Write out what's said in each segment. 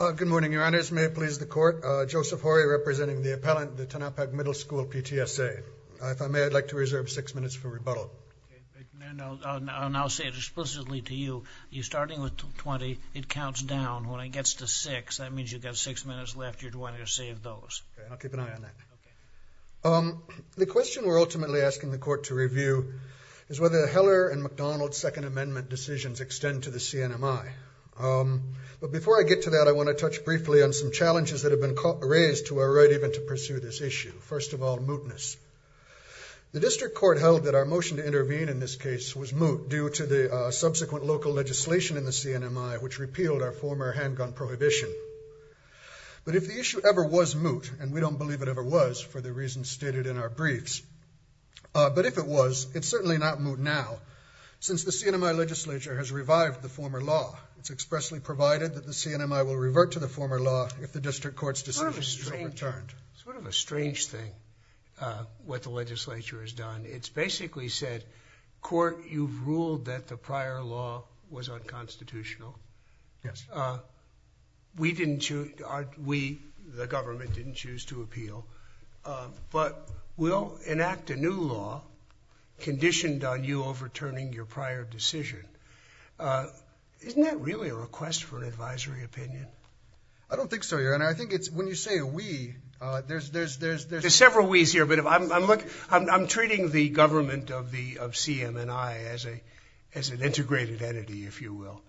Good morning, your honors. May it please the court, Joseph Horry representing the appellant, the Tanapak Middle School PTSA. If I may, I'd like to reserve six minutes for rebuttal. I'll now say it explicitly to you. You're starting with 20. It counts down. When it gets to six, that means you've got six minutes left. You're going to save those. Okay, I'll keep an eye on that. The question we're ultimately asking the court to review is whether Heller and McDonald's Second Amendment decisions extend to the CNMI. But before I get to that, I want to touch briefly on some challenges that have been raised to our right even to pursue this issue. First of all, mootness. The district court held that our motion to intervene in this case was moot due to the subsequent local legislation in the CNMI which repealed our former handgun prohibition. But if the issue ever was moot, and we don't believe it ever was for the reasons stated in our briefs, but if it was, it's certainly not moot now. Since the CNMI legislature has revived the former law, it's expressly provided that the CNMI will revert to the former law if the district court's decision is overturned. Sort of a strange thing, what the legislature has done. It's basically said, court, you've ruled that the prior law was unconstitutional. Yes. We didn't choose, we, the government, didn't choose to appeal. But we'll enact a new law conditioned on you overturning your prior decision. Isn't that really a request for an advisory opinion? I don't think so, Your Honor. I think it's, when you say we, there's several we's here, but I'm treating the government of CMNI as an integrated entity, if you will.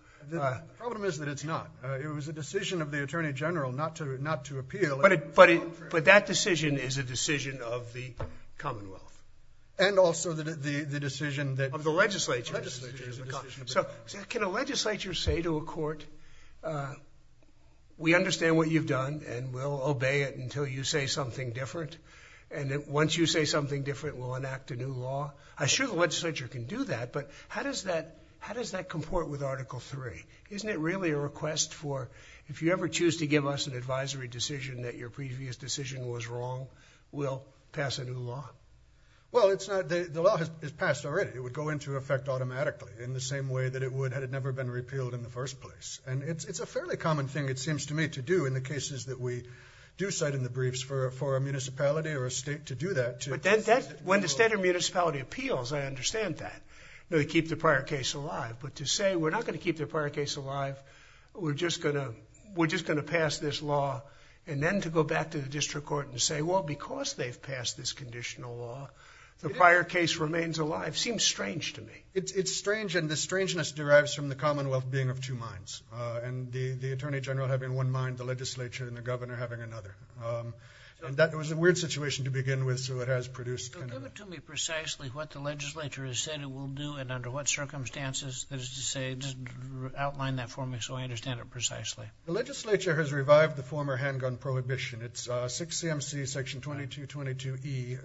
Problem is that it's not. It was a decision of the attorney general not to appeal. But that decision is a decision of the commonwealth. And also the decision of the legislature. So can a legislature say to a court, we understand what you've done and we'll obey it until you say something different. And once you say something different, we'll enact a new law. I sure the legislature can do that, but how does that comport with Article 3? Isn't it really a request for, if you ever choose to give us an advisory decision that your previous decision was wrong, we'll pass a new law? Well, it's not, the law has passed already. It would go into effect automatically in the same way that it would had it never been repealed in the first place. And it's a fairly common thing, it seems to me, to do in the cases that we do cite in the briefs for a municipality or a state to do that. But then when the state or municipality appeals, I understand that. They keep the prior case alive. But to say we're not going to keep the prior case alive, we're just going to pass this law. And then to go back to the district court and say, well, because they've passed this conditional law, the prior case remains alive, seems strange to me. It's strange. And the strangeness derives from the commonwealth being of two minds. And the attorney general having one mind, the legislature and the governor having another. And that was a weird situation to begin with. So it has produced... So give it to me precisely what the legislature has said it will do and under what circumstances that is to say, just outline that for me so I understand it precisely. The legislature has revived the former handgun prohibition. It's 6 C.M.C. section 2222 E,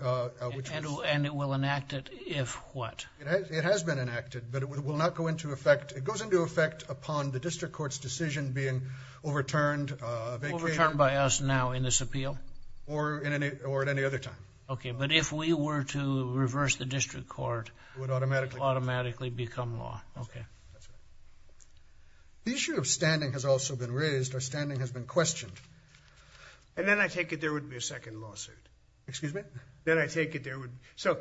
which was... And it will enact it if what? It has been enacted, but it will not go into effect. It goes into effect upon the district court's decision being overturned, vacated... Overturned by us now in this appeal? Or at any other time. Okay. But if we were to reverse the district court... It would automatically... Automatically become law. Okay. The issue of standing has also been raised or standing has been questioned. And then I take it there would be a second lawsuit. Excuse me? Then I take it there would... So,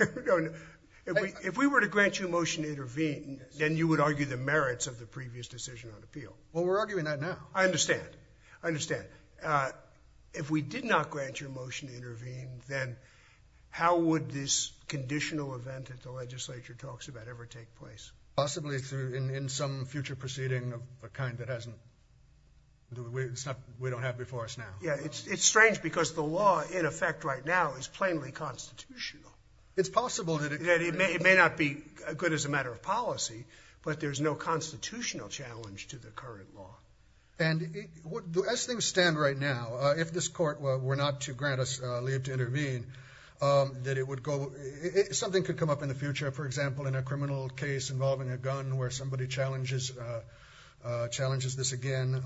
if we were to grant you a motion to intervene, then you would argue the merits of the previous decision on appeal. Well, we're arguing that now. I understand. I understand. If we did not grant your motion to intervene, then how would this conditional event that the legislature talks about ever take place? Possibly in some future proceeding of a kind that hasn't... We don't have before us now. Yeah. It's strange because the law in effect right now is plainly constitutional. It's possible that it... It may not be good as a matter of policy, but there's no constitutional challenge to the current law. And as things stand right now, if this court were not to grant us leave to intervene, that it would go... Something could come up in the future, for example, in a criminal case involving a gun where somebody challenges this again.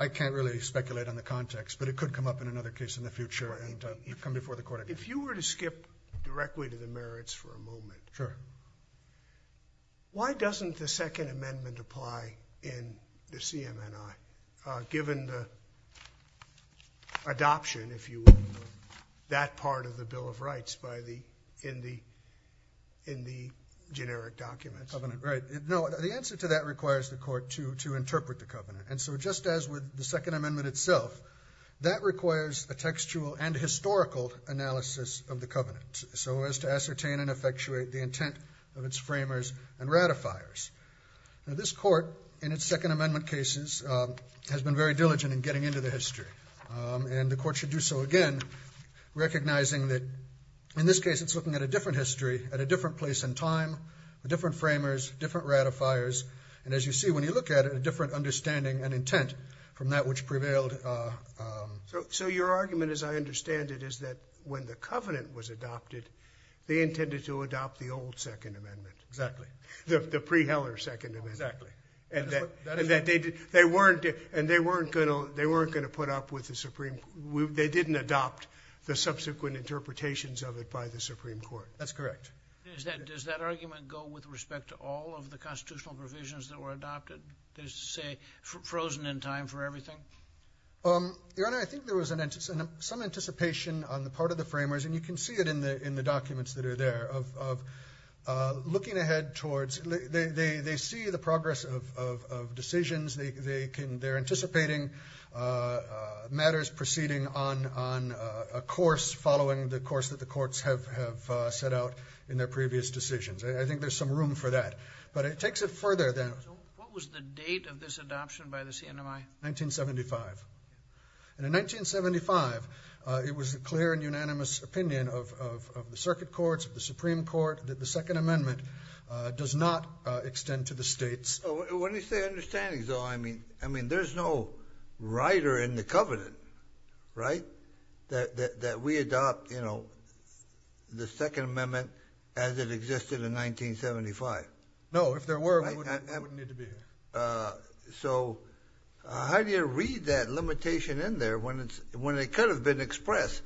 I can't really speculate on the context, but it could come up in another case in the future and come before the court again. If you were to skip directly to the merits for a moment... Sure. ...why doesn't the Second Amendment apply in the CMNI, given the adoption, if you will, of that part of the Bill of Rights in the generic documents? The covenant, right. No, the answer to that requires the court to interpret the covenant. And so just as with the Second Amendment itself, that requires a textual and historical analysis of the covenant, so as to ascertain and effectuate the intent of its framers and ratifiers. Now, this court, in its Second Amendment cases, has been very diligent in getting into the history. And the court should do so again, recognizing that in this case, it's looking at a different history, at a different place in time, different framers, different ratifiers. And as you see, when you look at it, a different understanding and intent from that which prevailed... So your argument, as I understand it, is that when the covenant was adopted, they intended to adopt the old Second Amendment. Exactly. The pre-Heller Second Amendment. Exactly. And they weren't going to put up with the Supreme... They didn't adopt the subsequent interpretations of it by the Supreme Court. That's correct. Does that argument go with respect to all of the constitutional provisions that were adopted, that is to say, frozen in time for everything? Your Honor, I think there was some anticipation on the part of the framers, and you can see it in the documents that are there, of looking ahead towards... They see the progress of decisions. They're anticipating matters proceeding on a course following the course that the courts have set out in their previous decisions. I think there's some room for that. But it takes it further than... So what was the date of this adoption by the CNMI? 1975. And in 1975, it was a clear and unanimous opinion of the Circuit Courts, of the Supreme Court, that the Second Amendment does not extend to the states. What is their understanding, though? I mean, there's no writer in the covenant, right, that we adopt the Second Amendment as it existed in 1975. No, if there were, we wouldn't need to be here. So how do you read that limitation in there when it could have been expressed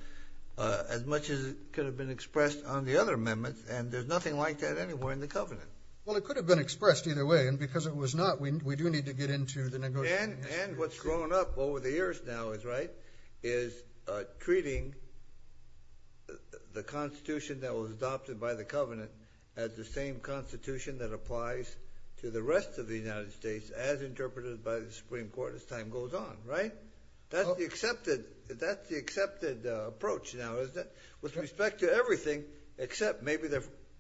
as much as it could have been expressed on the other amendments, and there's nothing like that anywhere in the covenant? Well, it could have been expressed either way, and because it was not, we do need to get into the negotiation history. And what's grown up over the years now, is treating the constitution that was adopted by the covenant as the same constitution that applies to the rest of the United States, as interpreted by the Supreme Court as time goes on, right? That's the accepted approach now, isn't it? With respect to everything, except maybe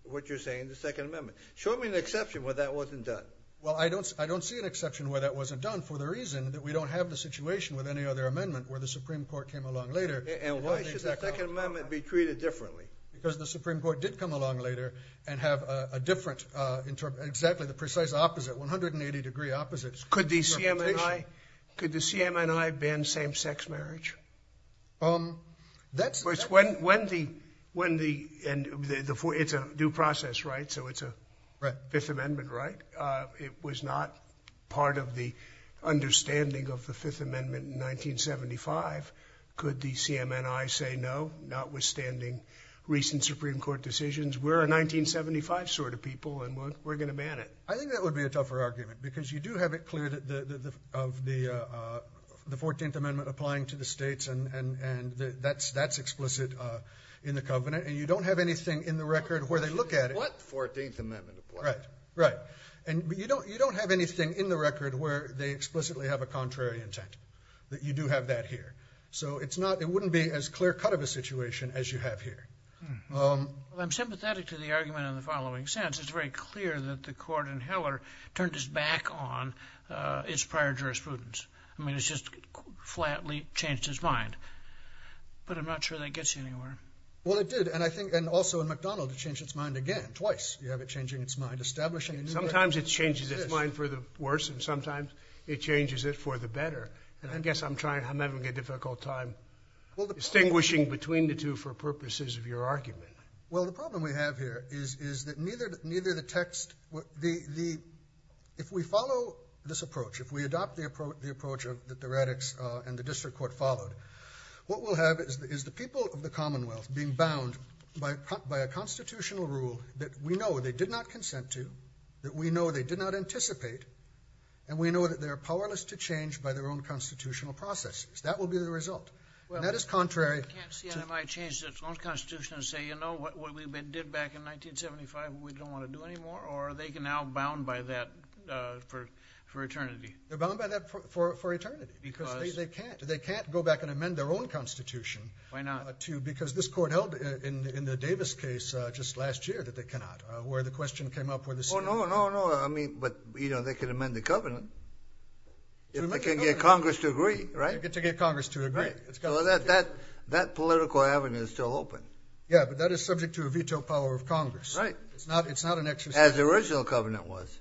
what you're saying, the Second Amendment. Show me an exception where that wasn't done. Well, I don't see an exception where that wasn't done, for the reason that we don't have the situation with any other amendment where the Supreme Court came along later. And why should the Second Amendment be treated differently? Because the Supreme Court did come along later, and have a different, exactly the precise opposite, 180 degree opposite interpretation. Could the CMNI ban same-sex marriage? Um, that's... It's a due process, right? So it's a Fifth Amendment, right? It was not part of the understanding of the Fifth Amendment in 1975. Could the CMNI say no, notwithstanding recent Supreme Court decisions? We're a 1975 sort of people, and we're going to ban it. I think that would be a tougher argument. Because you do have it clear that the 14th Amendment applying to the states, and that's explicit in the covenant. And you don't have anything in the record where they look at it... What 14th Amendment? Right, right. And you don't have anything in the record where they explicitly have a contrary intent. That you do have that here. So it's not, it wouldn't be as clear-cut of a situation as you have here. I'm sympathetic to the argument in the following sense. It's very clear that the court in Heller turned its back on its prior jurisprudence. I mean, it's just flatly changed its mind. But I'm not sure that gets you anywhere. Well, it did. And I think, and also in McDonald, it changed its mind again, twice. You have it changing its mind, establishing... Sometimes it changes its mind for the worse, and sometimes it changes it for the better. I guess I'm trying, I'm having a difficult time distinguishing between the two for purposes of your argument. Well, the problem we have here is that neither the text... If we follow this approach, if we adopt the approach that the radix and the district court followed, what we'll have is the people of the Commonwealth being bound by a constitutional rule that we know they did not consent to, that we know they did not anticipate, and we know that they are powerless to change by their own constitutional processes. That will be the result. Well, I can't see how they might change their own constitution and say, you know, what we did back in 1975, we don't want to do anymore, or they can now bound by that for eternity. They're bound by that for eternity. Because? They can't. They can't go back and amend their own constitution. Why not? Because this court held in the Davis case just last year that they cannot, where the question came up where the... Oh, no, no, no. I mean, but, you know, they can amend the covenant. If they can get Congress to agree, right? They get to get Congress to agree. So that political avenue is still open. Yeah, but that is subject to a veto power of Congress. Right. It's not an exercise... As the original covenant was.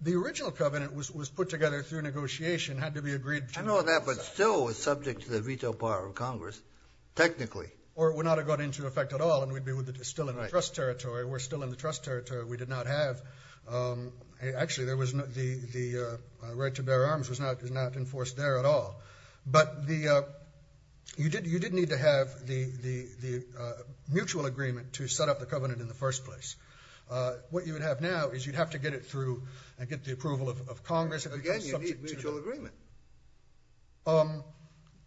The original covenant was put together through negotiation, had to be agreed... I know that, but still it was subject to the veto power of Congress, technically. Or it would not have gone into effect at all, and we'd be still in the trust territory. We're still in the trust territory. We did not have... Actually, the right to bear arms was not enforced there at all. But you did need to have the mutual agreement to set up the covenant in the first place. What you would have now is you'd have to get it through and get the approval of Congress... Again, you need mutual agreement.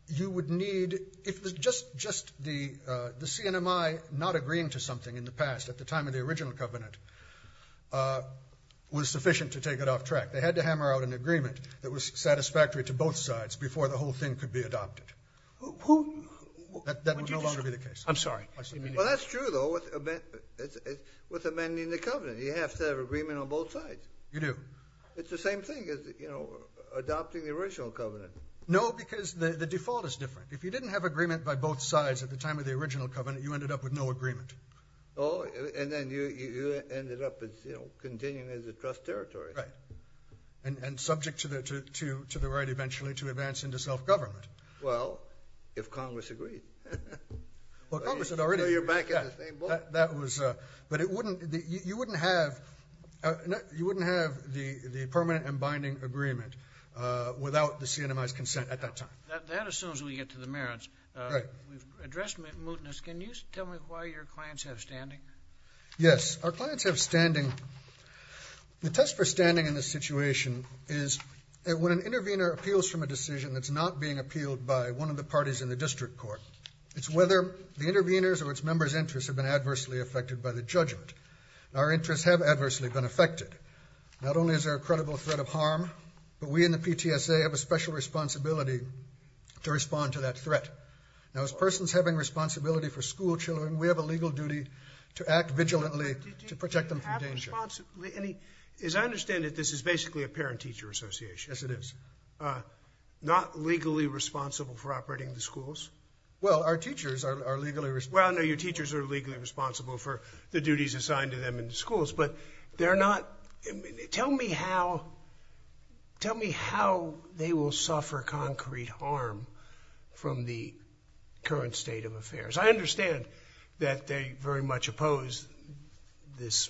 You would need... If just the CNMI not agreeing to something in the past, at the time of the original covenant, was sufficient to take it off track. They had to hammer out an agreement that was satisfactory to both sides before the whole thing could be adopted. That would no longer be the case. I'm sorry. Well, that's true, though, with amending the covenant. You have to have agreement on both sides. You do. It's the same thing as adopting the original covenant. No, because the default is different. If you didn't have agreement by both sides at the time of the original covenant, you ended up with no agreement. Oh, and then you ended up continuing as a trust territory. Right. And subject to the right eventually to advance into self-government. Well, if Congress agreed. Well, Congress had already... You're back at the same boat. That was... But you wouldn't have the permanent and binding agreement without the CNMI's consent at that time. That assumes we get to the merits. Right. We've addressed mootness. Can you tell me why your clients have standing? Yes, our clients have standing. The test for standing in this situation is that when an intervener appeals from a decision that's not being appealed by one of the parties in the district court, it's whether the interveners or its members' interests have been adversely affected by the judgment. Our interests have adversely been affected. Not only is there a credible threat of harm, but we in the PTSA have a special responsibility to respond to that threat. Now, as persons having responsibility for school children, we have a legal duty to act vigilantly to protect them from danger. As I understand it, this is basically a parent-teacher association. Yes, it is. Not legally responsible for operating the schools? Well, our teachers are legally responsible. Well, no, your teachers are legally responsible for the duties assigned to them in the schools, but they're not... Tell me how they will suffer concrete harm from the current state of affairs. I understand that they very much oppose this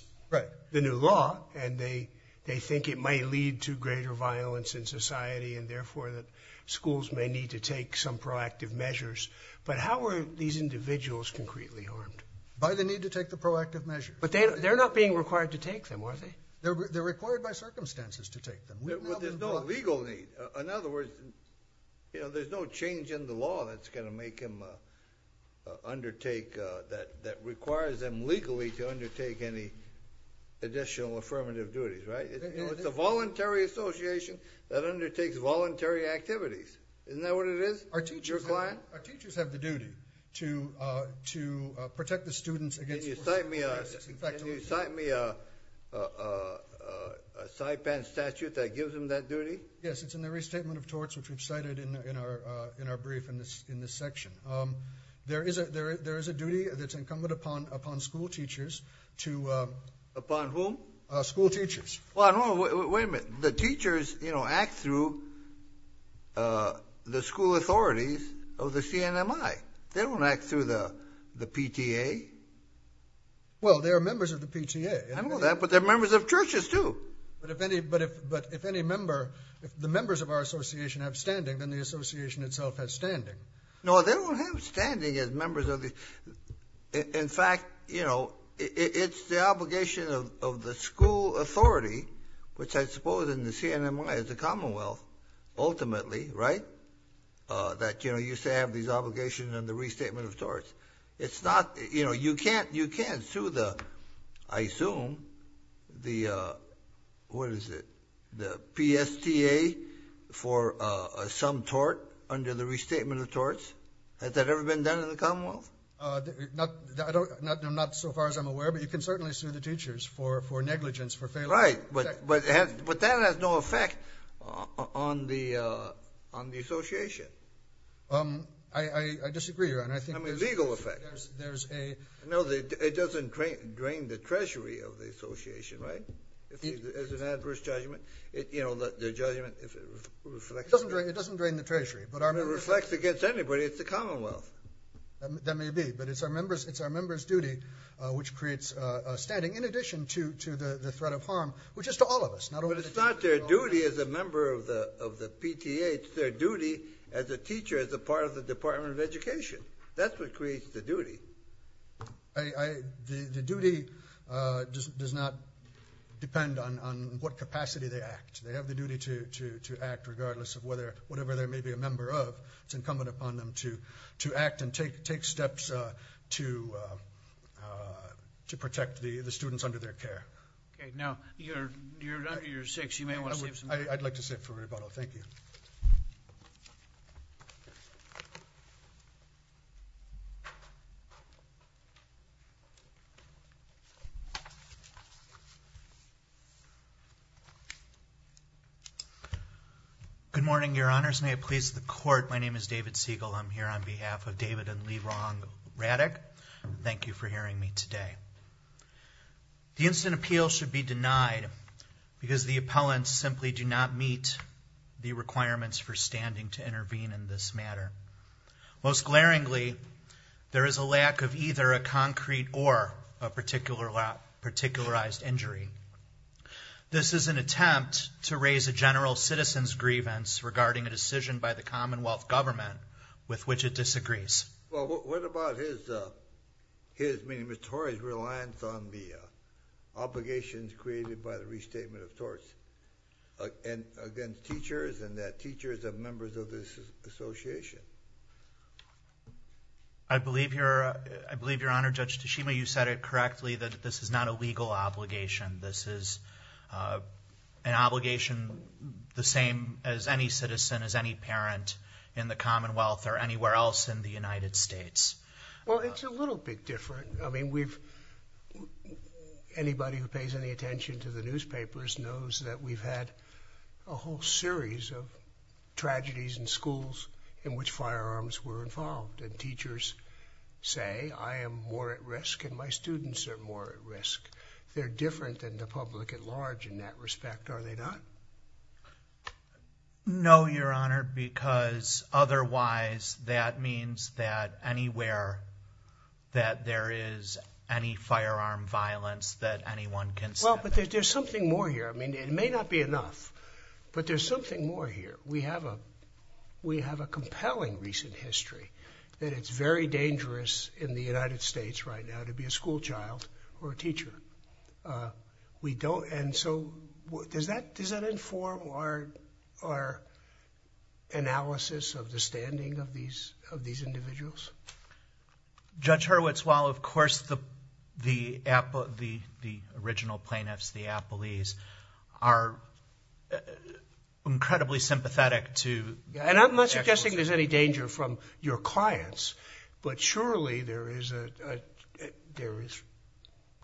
new law and they think it might lead to greater violence in society and therefore that schools may need to take some proactive measures, but how are these individuals concretely harmed? By the need to take the proactive measures. But they're not being required to take them, are they? They're required by circumstances to take them. But there's no legal need. In other words, there's no change in the law that's going to make them undertake... that requires them legally to undertake any additional affirmative duties, right? It's a voluntary association that undertakes voluntary activities. Isn't that what it is? Our teachers have the duty to protect the students against... Can you cite me a sideband statute that gives them that duty? Yes, it's in the restatement of torts, which we've cited in our brief in this section. There is a duty that's incumbent upon school teachers to... Upon whom? School teachers. Well, no, wait a minute. The teachers, you know, act through the school authorities of the CNMI. They don't act through the PTA. Well, they are members of the PTA. I know that, but they're members of churches too. But if any member... If the members of our association have standing, then the association itself has standing. No, they don't have standing as members of the... In fact, you know, it's the obligation of the school authority, which I suppose in the CNMI is the Commonwealth, ultimately, right? That, you know, you say have these obligations in the restatement of torts. It's not... You know, you can't sue the... I assume the... What is it? The PSTA for some tort under the restatement of torts. Has that ever been done in the Commonwealth? Not so far as I'm aware, but you can certainly sue the teachers for negligence, for failure. Right, but that has no effect on the association. I disagree, Ron. I think there's... I mean, legal effect. There's a... No, it doesn't drain the treasury of the association, right? If there's an adverse judgment, you know, the judgment, if it reflects... It doesn't drain the treasury, but our members... If it reflects against anybody, it's the Commonwealth. That may be, but it's our members' duty, which creates a standing, in addition to the threat of harm, which is to all of us. But it's not their duty as a member of the PTA. It's their duty as a teacher, as a part of the Department of Education. That's what creates the duty. The duty does not depend on what capacity they act. They have the duty to act regardless of whatever they may be a member of. It's incumbent upon them to act and take steps to protect the students under their care. Okay. Now, you're under year six. You may want to save some money. I'd like to save for rebuttal. Thank you. Good morning, your honors. May it please the court. My name is David Siegel. I'm here on behalf of David and Lerong Raddick. Thank you for hearing me today. The instant appeal should be denied because the appellants simply do not meet the requirements for standing to intervene in this matter. Most glaringly, there is a lack of either a concrete or a particularized injury. This is an attempt to raise a general citizen's grievance regarding a decision by the Commonwealth government with which it disagrees. Well, what about his, I mean, Mr. Horry's reliance on the obligations created by the restatement of torts against teachers and that teachers are members of this association? I believe your honor, Judge Tashima, you said it correctly that this is not a legal obligation. This is an obligation the same as any citizen, as any parent in the Commonwealth or anywhere else in the United States. Well, it's a little bit different. I mean, we've, anybody who pays any attention to the newspapers knows that we've had a whole series of tragedies in schools in which firearms were involved and teachers say, I am more at risk and my students are more at risk. They're different than the public at large in that respect, are they not? No, your honor, because otherwise that means that anywhere, that there is any firearm violence that anyone can say. Well, but there's something more here. I mean, it may not be enough, but there's something more here. We have a compelling recent history that it's very dangerous in the United States right now to be a school child or a teacher. We don't, and so does that inform our analysis of the standing of these individuals? Judge Hurwitz, while of course the original plaintiffs, the appellees, are incredibly sympathetic to- And I'm not suggesting there's any danger from your clients, but surely there is a there is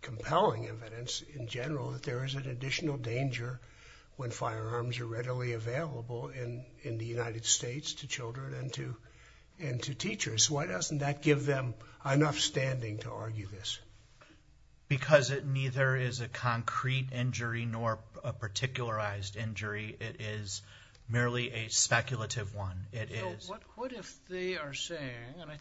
compelling evidence in general that there is an additional danger when firearms are readily available in the United States to children and to teachers. Why doesn't that give them enough standing to argue this? Because it neither is a concrete injury nor a particularized injury. It is merely a speculative one. What if they are saying, and I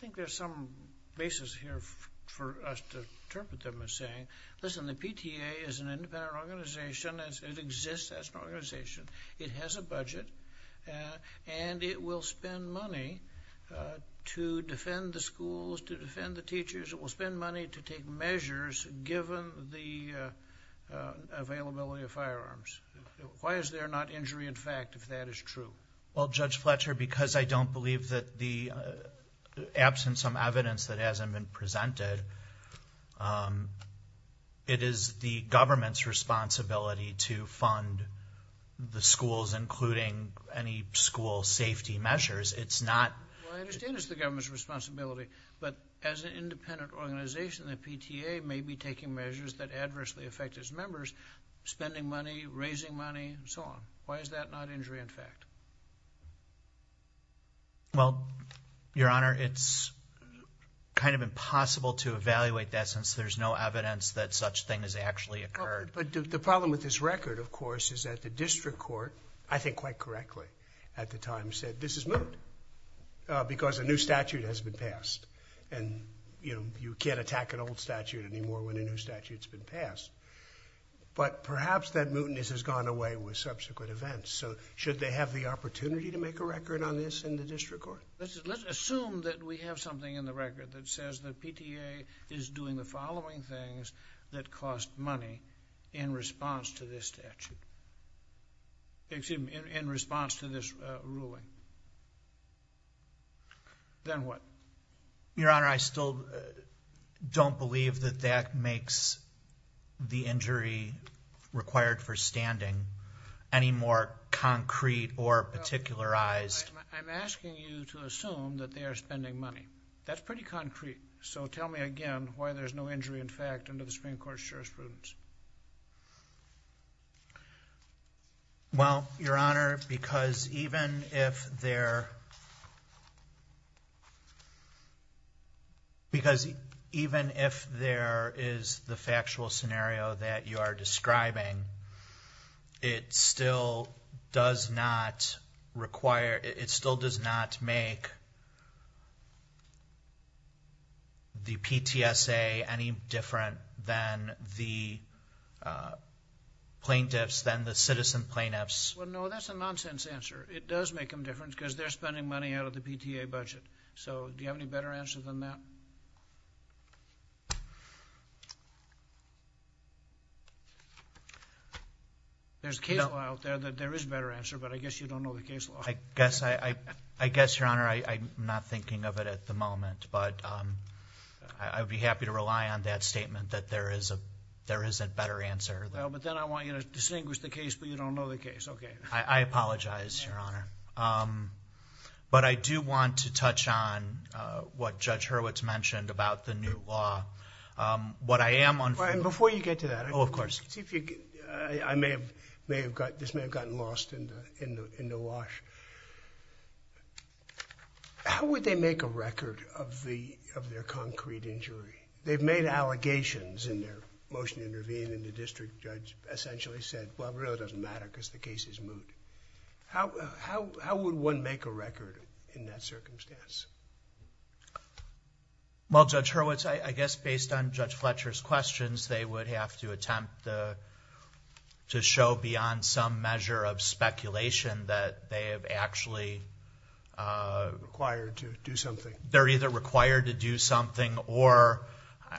think there's some basis here for us to interpret them as saying, listen, the PTA is an independent organization. It exists as an organization. It has a budget and it will spend money to defend the schools, to defend the teachers. It will spend money to take measures given the availability of firearms. Why is there not injury in fact, if that is true? Well, Judge Fletcher, because I don't believe that the absence of evidence that hasn't been presented, it is the government's responsibility to fund the schools, including any school safety measures. It's not- Well, I understand it's the government's responsibility, but as an independent organization, the PTA may be taking measures that adversely affect its members, spending money, raising money, and so on. Why is that not injury in fact? Well, Your Honor, it's kind of impossible to evaluate that since there's no evidence that such thing has actually occurred. But the problem with this record, of course, is that the district court, I think quite correctly at the time, said this is moot because a new statute has been passed. And you can't attack an old statute anymore when a new statute has been passed. But perhaps that mootness has gone away with subsequent events. So should they have the opportunity to make a record on this in the district court? Let's assume that we have something in the record that says the PTA is doing the following things that cost money in response to this statute, excuse me, in response to this ruling. Then what? Your Honor, I still don't believe that that makes the injury required for standing any more concrete or particularized. I'm asking you to assume that they are spending money. That's pretty concrete. So tell me again why there's no injury in fact under the Supreme Court's jurisprudence. Well, Your Honor, because even if there is the factual scenario that you are describing, it still does not require, it still does not make the PTSA any different than the plaintiffs, than the citizen plaintiffs. Well, no, that's a nonsense answer. It does make them different because they're spending money out of the PTA budget. So do you have any better answer than that? There's a case law out there that there is a better answer, but I guess you don't know the case law. I guess, Your Honor, I'm not thinking of it at the moment. But I would be happy to rely on that statement that there is a better answer. Well, but then I want you to distinguish the case, but you don't know the case. Okay. I apologize, Your Honor. But I do want to touch on what Judge Hurwitz mentioned about the new law. What I am... Brian, before you get to that... Oh, of course... see if you... I may have... this may have gotten lost in the wash. How would they make a record of their concrete injury? They've made allegations in their motion to intervene and the district judge essentially said, well, it really doesn't matter because the case is moot. How would one make a record in that circumstance? Well, Judge Hurwitz, I guess based on Judge Fletcher's questions, they would have to attempt to show beyond some measure of speculation that they have actually... Required to do something. They're either required to do something or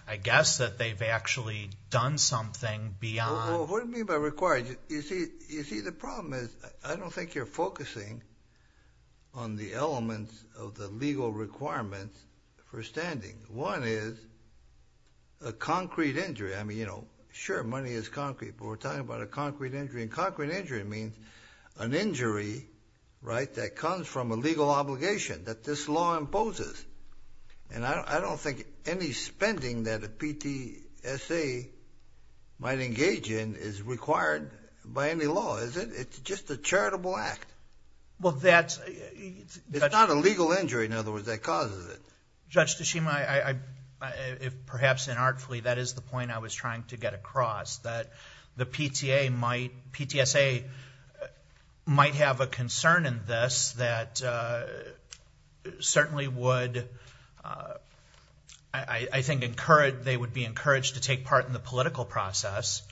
I guess that they've actually done something beyond... Well, what do you mean by required? You see, the problem is I don't think you're focusing on the elements of the legal requirements for standing. One is a concrete injury. I mean, you know, sure, money is concrete, but we're talking about a concrete injury. And concrete injury means an injury, right, that comes from a legal obligation that this law imposes. And I don't think any spending that a PTSA might engage in is required by any law, is it? It's just a charitable act. Well, that's... It's not a legal injury, in other words, that causes it. Judge Tshishima, perhaps inartfully, that is the point I was trying to get across, that the PTSA might have a concern in this that certainly would, I think, they would be encouraged to take part in the political process.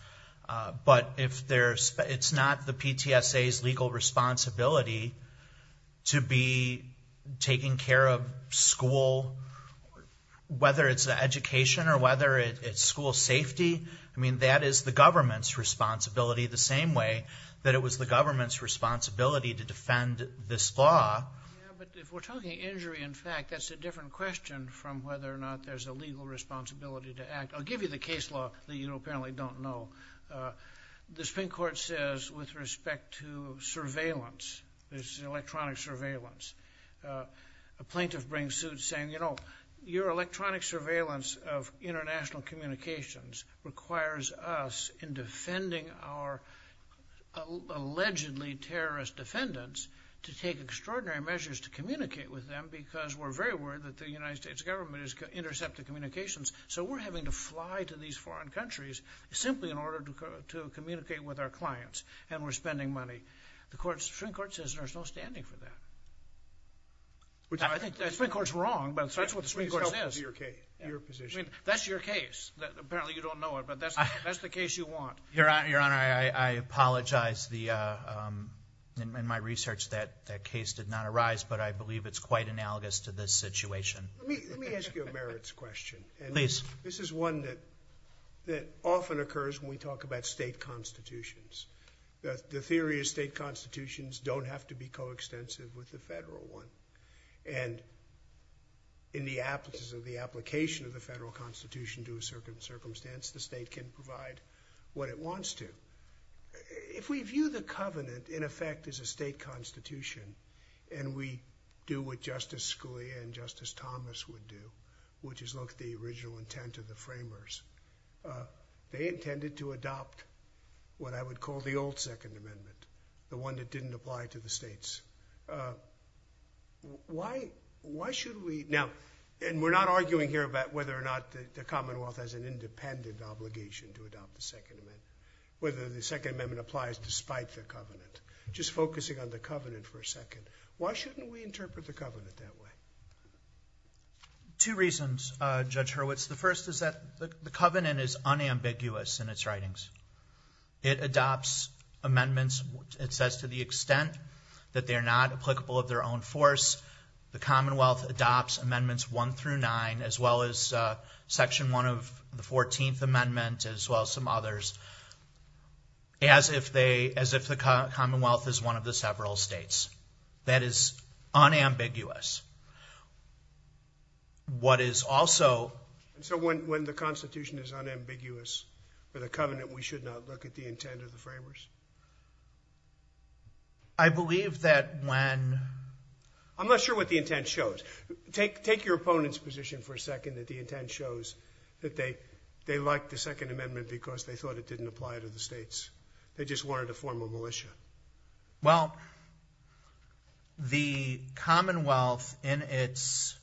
But it's not the PTSA's legal responsibility to be taking care of school, whether it's the education or whether it's school safety. I mean, that is the government's responsibility the same way that it was the government's responsibility to defend this law. Yeah, but if we're talking injury, in fact, that's a different question from whether or not there's a legal responsibility to act. I'll give you the case law that you apparently don't know. The Supreme Court says, with respect to surveillance, this electronic surveillance, a plaintiff brings suit saying, you know, your electronic surveillance of international communications requires us in defending our allegedly terrorist defendants to take extraordinary measures to communicate with them because we're very worried that the United States government is going to intercept the communications. So we're having to fly to these foreign countries simply in order to communicate with our clients and we're spending money. The Supreme Court says there's no standing for that. I think the Supreme Court's wrong, but that's what the Supreme Court says. I mean, that's your case. Apparently, you don't know it, but that's the case you want. Your Honor, I apologize. In my research, that case did not arise, but I believe it's quite analogous to this situation. Let me ask you a merits question. This is one that often occurs when we talk about state constitutions. The theory of state constitutions don't have to be coextensive with the federal one. And in the absence of the application of the federal constitution to a certain circumstance, the state can provide what it wants to. If we view the covenant in effect as a state constitution and we do what Justice Scalia and Justice Thomas would do, which is look at the original intent of the framers, they intended to adopt what I would call the old Second Amendment, the one that didn't apply to the states. Now, and we're not arguing here about whether or not the Commonwealth has an independent obligation to adopt the Second Amendment, whether the Second Amendment applies despite the covenant, just focusing on the covenant for a second. Why shouldn't we interpret the covenant that way? Two reasons, Judge Hurwitz. The first is that the covenant is unambiguous in its writings. It adopts amendments. It says to the extent that they're not applicable of their own force, the Commonwealth adopts Amendments 1 through 9, as well as Section 1 of the 14th Amendment, as well as some others, as if the Commonwealth is one of the several states. That is unambiguous. What is also... So when the constitution is unambiguous for the covenant, we should not look at the intent of the framers? I believe that when... I'm not sure what the intent shows. Take your opponent's position for a second that the intent shows that they liked the Second Amendment because they thought it didn't apply to the states. They just wanted to form a militia. Well, the Commonwealth, in its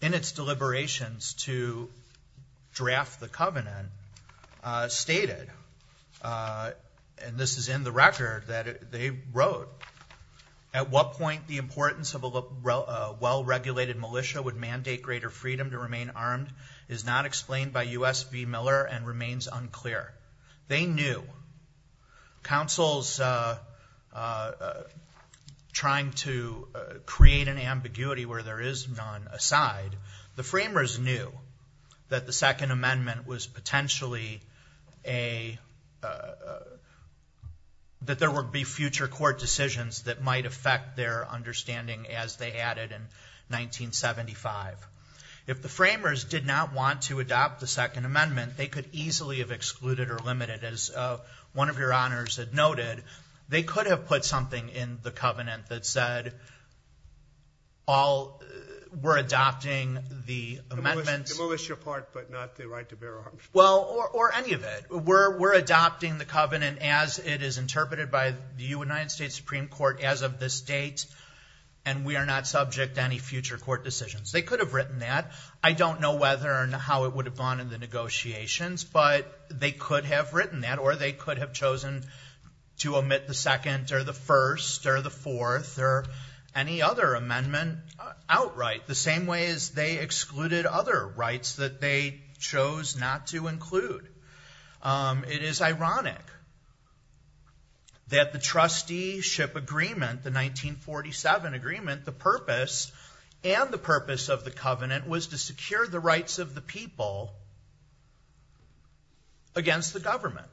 deliberations to draft the covenant, stated and this is in the record that they wrote, at what point the importance of a well-regulated militia would mandate greater freedom to remain armed is not explained by U.S. v. Miller and remains unclear. They knew. Council's trying to create an ambiguity where there is none aside, the framers knew that there would be future court decisions that might affect their understanding as they added in 1975. If the framers did not want to adopt the Second Amendment, they could easily have excluded or limited. As one of your honors had noted, they could have put something in the covenant that said that we're adopting the amendment... The militia part, but not the right to bear arms. Well, or any of it. We're adopting the covenant as it is interpreted by the United States Supreme Court as of this date and we are not subject to any future court decisions. They could have written that. I don't know whether or not how it would have gone in the negotiations, but they could have written that or they could have chosen to omit the second or the first or the fourth or any other amendment outright, the same way as they excluded other rights that they chose not to include. It is ironic that the trusteeship agreement, the 1947 agreement, the purpose and the purpose of the covenant was to secure the rights of the people against the government.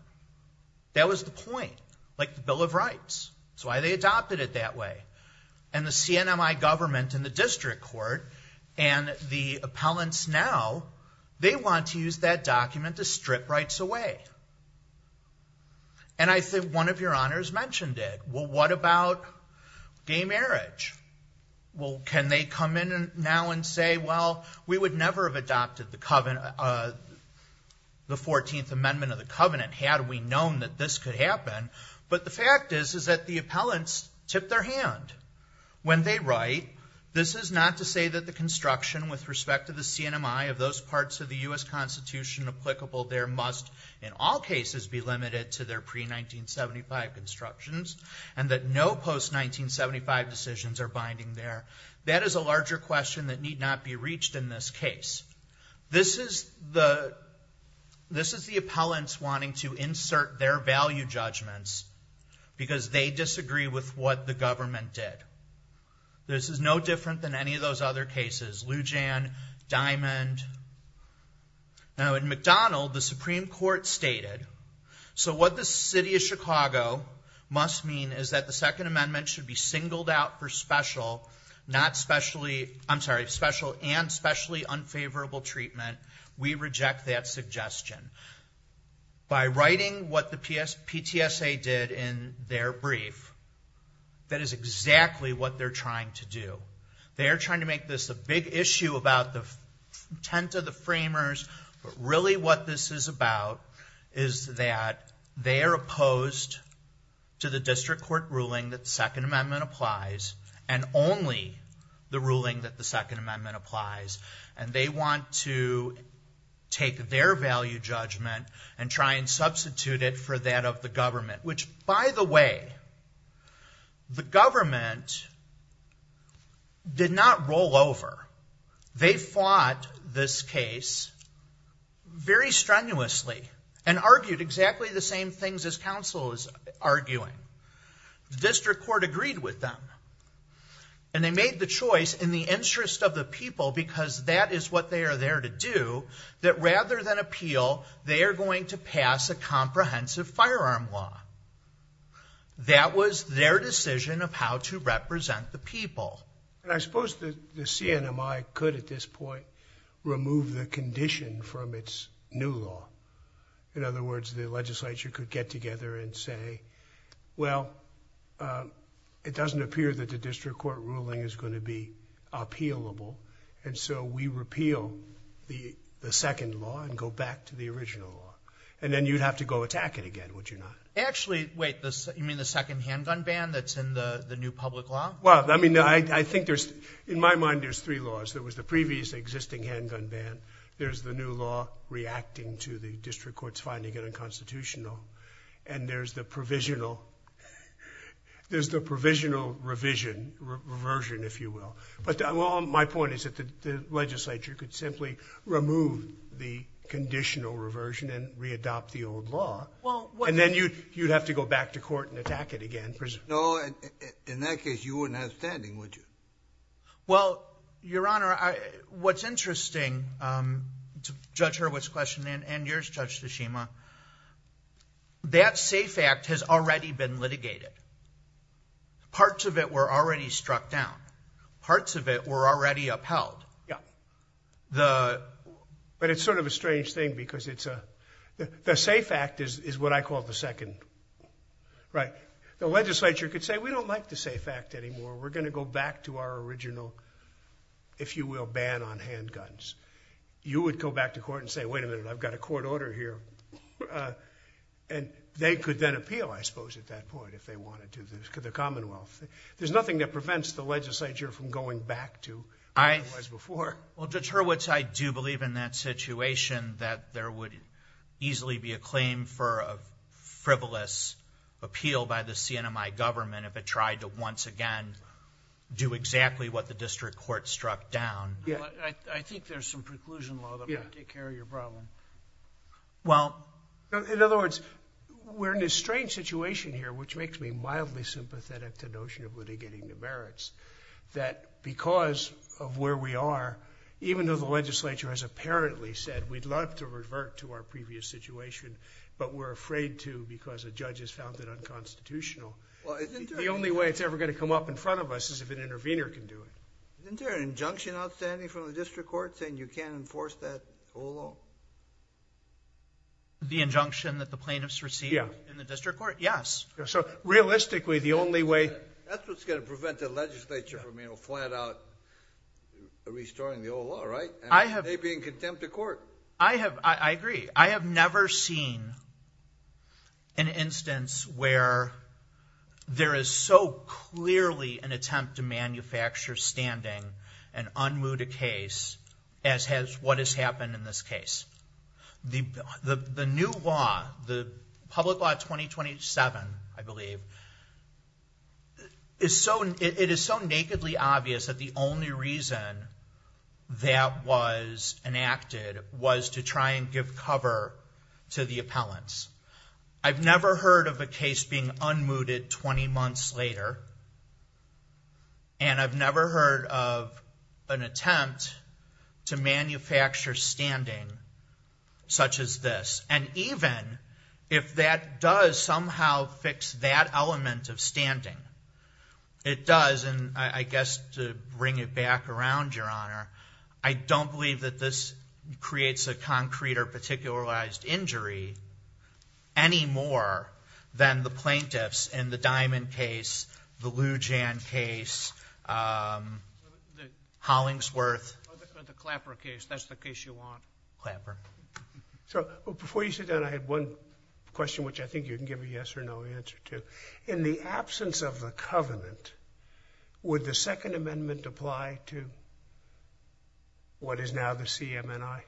That was the point. Like the Bill of Rights. That's why they adopted it that way. And the CNMI government and the district court and the appellants now, they want to use that document to strip rights away. And I think one of your honors mentioned it. Well, what about gay marriage? Well, can they come in now and say, well, we would never have adopted the 14th amendment of the covenant had we known that this could happen. But the fact is, is that the appellants tipped their hand when they write. This is not to say that the construction with respect to the CNMI of those parts of the U.S. Constitution applicable there must in all cases be limited to their pre-1975 constructions and that no post-1975 decisions are binding there. That is a larger question that need not be reached in this case. This is the appellants wanting to insert their value judgments because they disagree with what the government did. This is no different than any of those other cases. Lujan, Diamond. Now in McDonald, the Supreme Court stated, so what the city of Chicago must mean is that the second amendment should be singled out for special, not specially, I'm sorry, special and specially unfavorable treatment. We reject that suggestion. By writing what the PTSA did in their brief, that is exactly what they're trying to do. They are trying to make this a big issue about the intent of the framers, but really what this is about is that they are opposed to the district court ruling that the second amendment applies and only the ruling that the second amendment applies. And they want to take their value judgment and try and substitute it for that of the government, which by the way, the government did not roll over. They fought this case very strenuously and argued exactly the same things as counsel is arguing. The district court agreed with them and they made the choice in the interest of the people, because that is what they are there to do, that rather than appeal, they are going to pass a comprehensive firearm law. That was their decision of how to represent the people. And I suppose the CNMI could at this point remove the condition from its new law. In other words, the legislature could get together and say, well, it doesn't appear that the district court ruling is going to be appealable. And so we repeal the second law and go back to the original law. And then you'd have to go attack it again, would you not? Actually, wait, you mean the second handgun ban that's in the new public law? Well, I mean, I think there's, in my mind, there's three laws. There was the previous existing handgun ban. There's the new law reacting to the district court's finding it unconstitutional. And there's the provisional, there's the provisional revision, reversion, if you will. But my point is that the legislature could simply remove the conditional reversion and re-adopt the old law. And then you'd have to go back to court and attack it again. No, in that case, you wouldn't have standing, would you? Well, Your Honor, what's interesting, Judge Hurwitz's question and yours, Judge Tashima, that SAFE Act has already been litigated. Parts of it were already struck down. Parts of it were already upheld. But it's sort of a strange thing because the SAFE Act is what I call the second, right? The legislature could say, we don't like the SAFE Act anymore. We're going to go back to our original, if you will, ban on handguns. You would go back to court and say, wait a minute, I've got a court order here. And they could then appeal, I suppose, at that point if they wanted to, the Commonwealth. There's nothing that prevents the legislature from going back to otherwise before. Well, Judge Hurwitz, I do believe in that situation that there would easily be a claim for a CNMI government if it tried to once again do exactly what the district court struck down. I think there's some preclusion law that might take care of your problem. Well, in other words, we're in this strange situation here, which makes me mildly sympathetic to the notion of litigating the merits, that because of where we are, even though the legislature has apparently said, we'd love to revert to our previous situation, but we're afraid to because a judge has found it unconstitutional. The only way it's ever going to come up in front of us is if an intervener can do it. Isn't there an injunction outstanding from the district court saying you can't enforce that? The injunction that the plaintiffs received in the district court? Yes. So realistically, the only way... That's what's going to prevent the legislature from flat out restoring the old law, right? I have... They'd be in contempt of court. I agree. I have never seen an instance where there is so clearly an attempt to manufacture standing and unmoot a case as has what has happened in this case. The new law, the public law 2027, I believe, it is so nakedly obvious that the only reason that was enacted was to try and give cover to the appellants. I've never heard of a case being unmooted 20 months later, and I've never heard of an attempt to manufacture standing such as this. And even if that does somehow fix that element of standing, it does, and I guess to bring it back around, Your Honor, I don't believe that this creates a concrete or particularized injury any more than the plaintiffs in the Diamond case, the Lujan case, Hollingsworth... The Clapper case. That's the case you want. Clapper. So before you sit down, I had one question which I think you can give a yes or no answer to. In the absence of the covenant, would the Second Amendment apply to what is now the CMNI?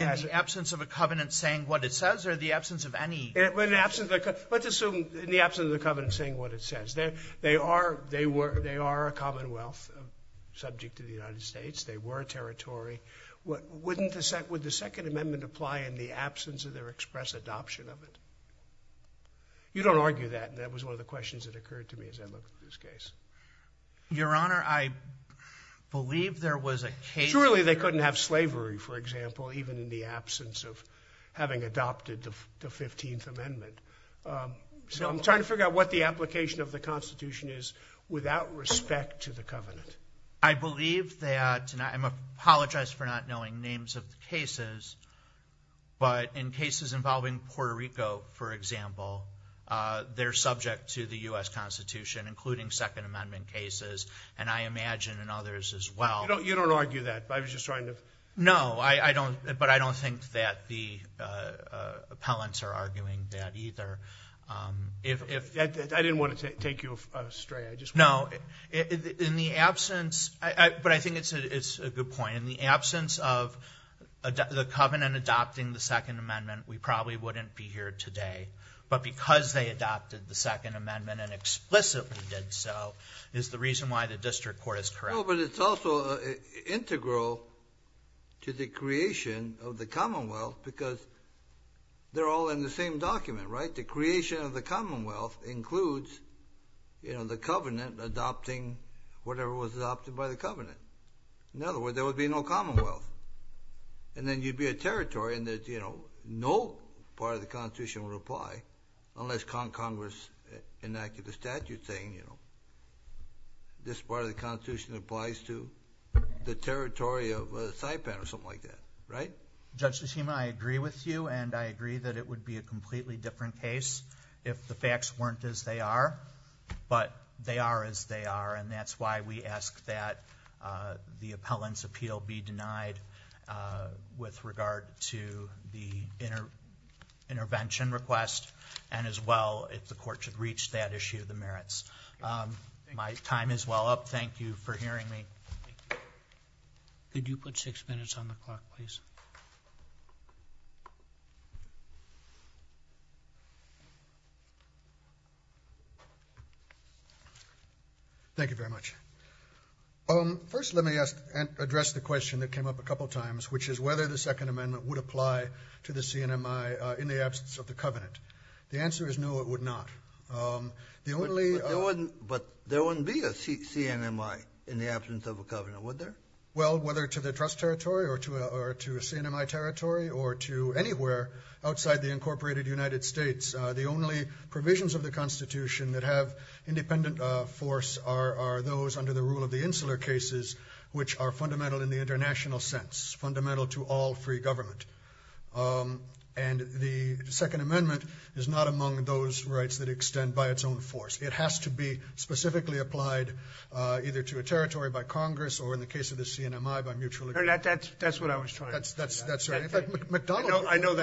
In the absence of a covenant saying what it says or the absence of any... Let's assume in the absence of the covenant saying what it says. They are a commonwealth subject to the United States. They were a territory. Wouldn't the Second Amendment apply in the absence of their express adoption of it? You don't argue that. That was one of the questions that occurred to me as I look at this case. Your Honor, I believe there was a case... Surely they couldn't have slavery, for example, even in the absence of having adopted the 15th Amendment. So I'm trying to figure out what the application of the Constitution is without respect to the covenant. I believe that, and I apologize for not knowing names of the cases, but in cases involving Puerto Rico, for example, they're subject to the U.S. Constitution, including Second Amendment cases, and I imagine in others as well. You don't argue that. I was just trying to... No, but I don't think that the appellants are arguing that either. I didn't want to take you astray. No, but I think it's a good point. In the absence of the covenant adopting the Second Amendment, we probably wouldn't be here today. But because they adopted the Second Amendment and explicitly did so is the reason why the district court is correct. No, but it's also integral to the creation of the Commonwealth because they're all in the same document, right? The creation of the Commonwealth includes the covenant adopting whatever was adopted by the covenant. In other words, there would be no Commonwealth, and then you'd be a territory, and no part of the Constitution would apply unless Congress enacted a statute saying, this part of the Constitution applies to the territory of Saipan or something like that, right? Judge Tsushima, I agree with you, and I agree that it would be a completely different case if the facts weren't as they are. But they are as they are, and that's why we ask that the appellant's appeal be denied with regard to the intervention request, and as well, if the court should reach that issue, the merits. My time is well up. Thank you for hearing me. Could you put six minutes on the clock, please? Thank you very much. First, let me address the question that came up a couple times, which is whether the Second Amendment would apply to the CNMI in the absence of the covenant. The answer is no, it would not. The only... But there wouldn't be a CNMI in the absence of a covenant, would there? Well, whether to the trust territory or to CNMI territory or to anywhere outside the incorporated United States, the only provisions of the Constitution that have independent force are those under the rule of the Insular Cases, which are fundamental in the international sense, fundamental to all free government. And the Second Amendment is not among those rights that extend by its own force. It has to be specifically applied either to a territory by Congress or, in the case of the CNMI, by mutual agreement. That's what I was trying to say. In fact, McDonald... I know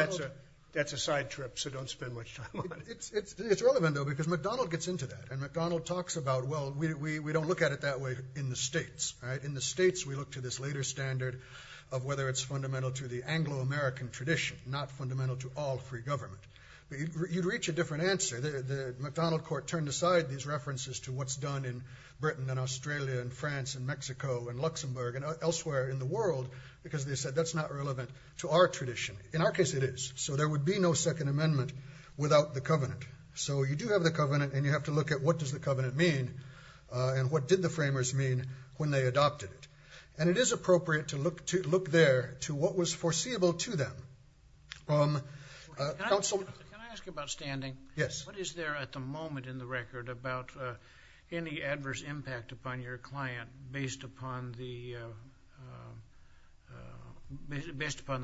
that's a side trip, so don't spend much time on it. It's relevant, though, because McDonald gets into that, and McDonald talks about, well, we don't look at it that way in the states. In the states, we look to this later standard of whether it's fundamental to the Anglo-American tradition, not fundamental to all free government. You'd reach a different answer. The McDonald Court turned aside these references to what's done in Britain and Australia and France and Mexico and Luxembourg and elsewhere in the world, because they said that's not relevant to our tradition. In our case, it is. So there would be no Second Amendment without the Covenant. So you do have the Covenant, and you have to look at what does the Covenant mean and what did the framers mean when they adopted it. And it is appropriate to look there to what was foreseeable to them. Counsel... Can I ask you about standing? Yes. What is there at the moment in the record about any adverse impact upon your client based upon the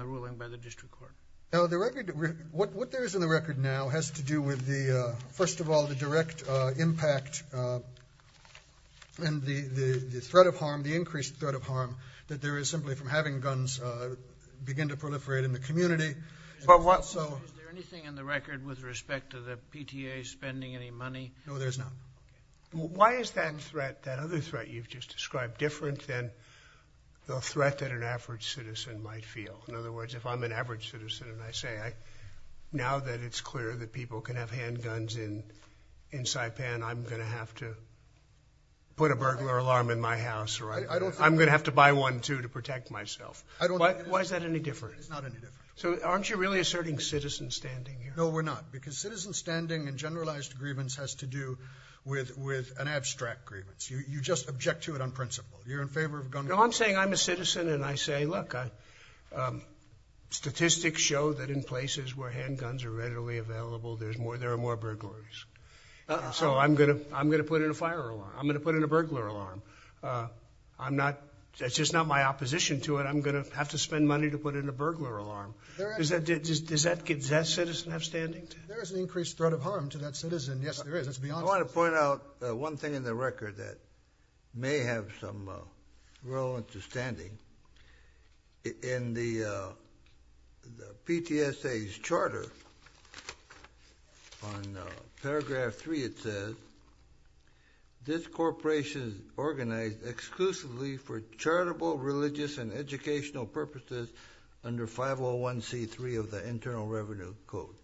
ruling by the district court? Now, what there is in the record now has to do with, first of all, the direct impact and the threat of harm, the increased threat of harm that there is simply from having guns begin to proliferate in the community. Is there anything in the record with respect to the PTA spending any money? No, there's not. Why is that threat, that other threat you've just described, different than the threat that an average citizen might feel? In other words, if I'm an average citizen and I say, now that it's clear that people can have handguns in Saipan, I'm going to have to put a burglar alarm in my house, or I'm going to have to buy one too to protect myself. Why is that any different? It's not any different. So aren't you really asserting citizen standing here? No, we're not. Because citizen standing and generalized grievance has to do with an abstract grievance. You just object to it on principle. You're in favor of gun laws. No, I'm saying I'm a citizen and I say, look, statistics show that in places where handguns are readily available, there are more burglaries. So I'm going to put in a fire alarm. I'm going to put in a burglar alarm. That's just not my opposition to it. I'm going to have to spend money to put in a burglar alarm. Does that citizen have standing? There is an increased threat of harm to that citizen. Yes, there is. Let's be honest. I want to point out one thing in the record that may have some real understanding. In the PTSA's charter, on paragraph three it says, this corporation is organized exclusively for charitable, religious, and educational purposes under 501c3 of the Internal Revenue Code.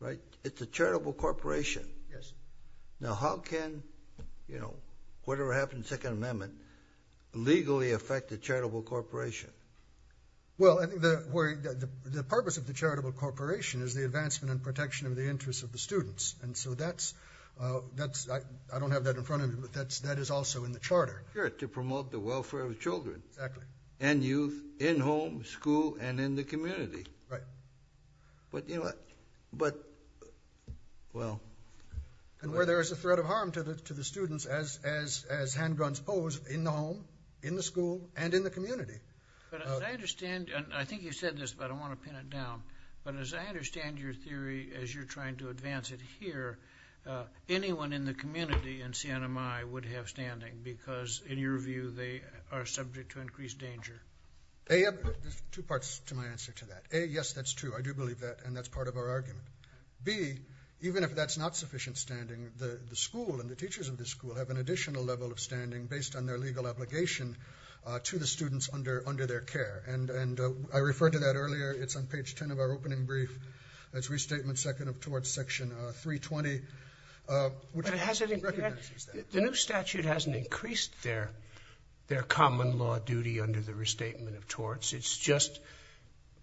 Right? It's a charitable corporation. Yes. Now, how can, you know, whatever happened in the Second Amendment, legally affect the charitable corporation? Well, I think the purpose of the charitable corporation is the advancement and protection of the interests of the students. And so that's, I don't have that in front of me, but that is also in the charter. Sure, to promote the welfare of children. Exactly. And youth in home, school, and in the community. Right. But, you know what, but, well. And where there is a threat of harm to the students as handguns pose, in the home, in the school, and in the community. But as I understand, and I think you said this, but I want to pin it down, but as I understand your theory as you're trying to advance it here, anyone in the community in CNMI would have standing because, in your view, they are subject to increased danger. There's two parts to my answer to that. A, yes, that's true. I do believe that. And that's part of our argument. B, even if that's not sufficient standing, the school and the teachers of the school have an additional level of standing based on their legal obligation to the students under their care. And I referred to that earlier. It's on page 10 of our opening brief. That's Restatement 2nd of Torts, Section 320, which recognizes that. The new statute hasn't increased their common law duty under the Restatement of Torts. It's just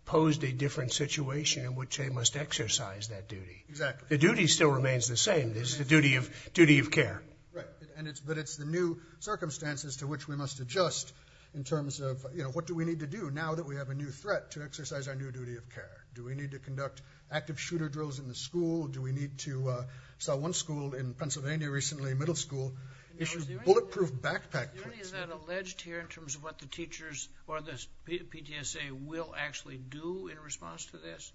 posed a different situation in which they must exercise that duty. Exactly. The duty still remains the same. It's the duty of care. Right. But it's the new circumstances to which we must adjust in terms of, you know, what do we need to do now that we have a new threat to exercise our new duty of care? Do we need to conduct active shooter drills in the school? Do we need to, I saw one school in Pennsylvania recently, middle school, issue bulletproof backpack plates. Is that alleged here in terms of what the teachers or the PTSA will actually do in response to this?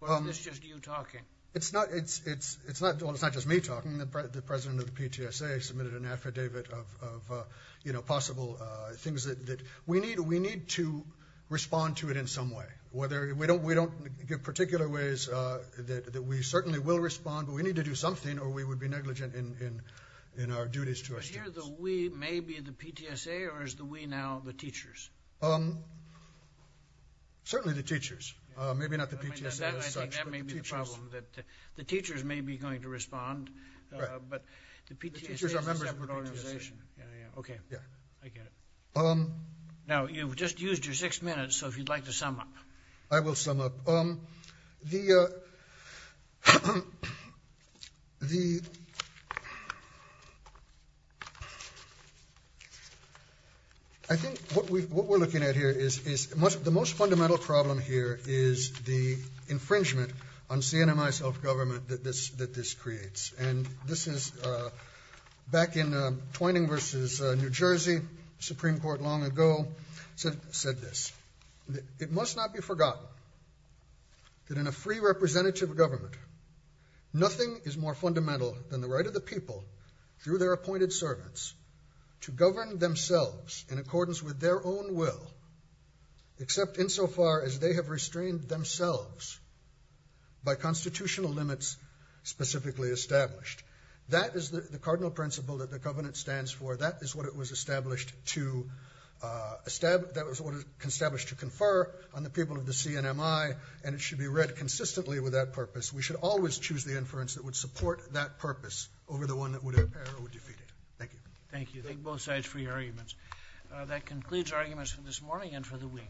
Or is this just you talking? It's not, it's, it's, it's not, well, it's not just me talking. The president of the PTSA submitted an affidavit of, you know, possible things that we need, we need to respond to it in some way. Whether, we don't, we don't give particular ways that we certainly will respond, but we need to do something or we would be negligent in our duties to our students. Is here the we, maybe the PTSA, or is the we now the teachers? Um, certainly the teachers, uh, maybe not the PTSA as such, but the teachers. I think that may be the problem, that the teachers may be going to respond, but the PTSA is a separate organization. The teachers are members of the PTSA. Yeah, yeah, okay, I get it. Now, you've just used your six minutes, so if you'd like to sum up. I will sum up. Um, the, uh, the, I think what we, what we're looking at here is, is the most fundamental problem here is the infringement on CNMI self-government that this, that this creates, and this is, uh, back in, uh, Twining versus, uh, New Jersey, Supreme Court long ago said, said this. It must not be forgotten that in a free representative government, nothing is more fundamental than the right of the people through their appointed servants to govern themselves in accordance with their own will, except insofar as they have restrained themselves by constitutional limits specifically established. That is the cardinal principle that the covenant stands for. That is what it was established to, uh, establish, that was what it was established to confer on the people of the CNMI, and it should be read consistently with that purpose. We should always choose the inference that would support that purpose over the one that would impair or defeat it. Thank you. Thank you. Thank both sides for your arguments. That concludes arguments for this morning and for the week.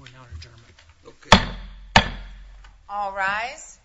We now adjourn. All rise.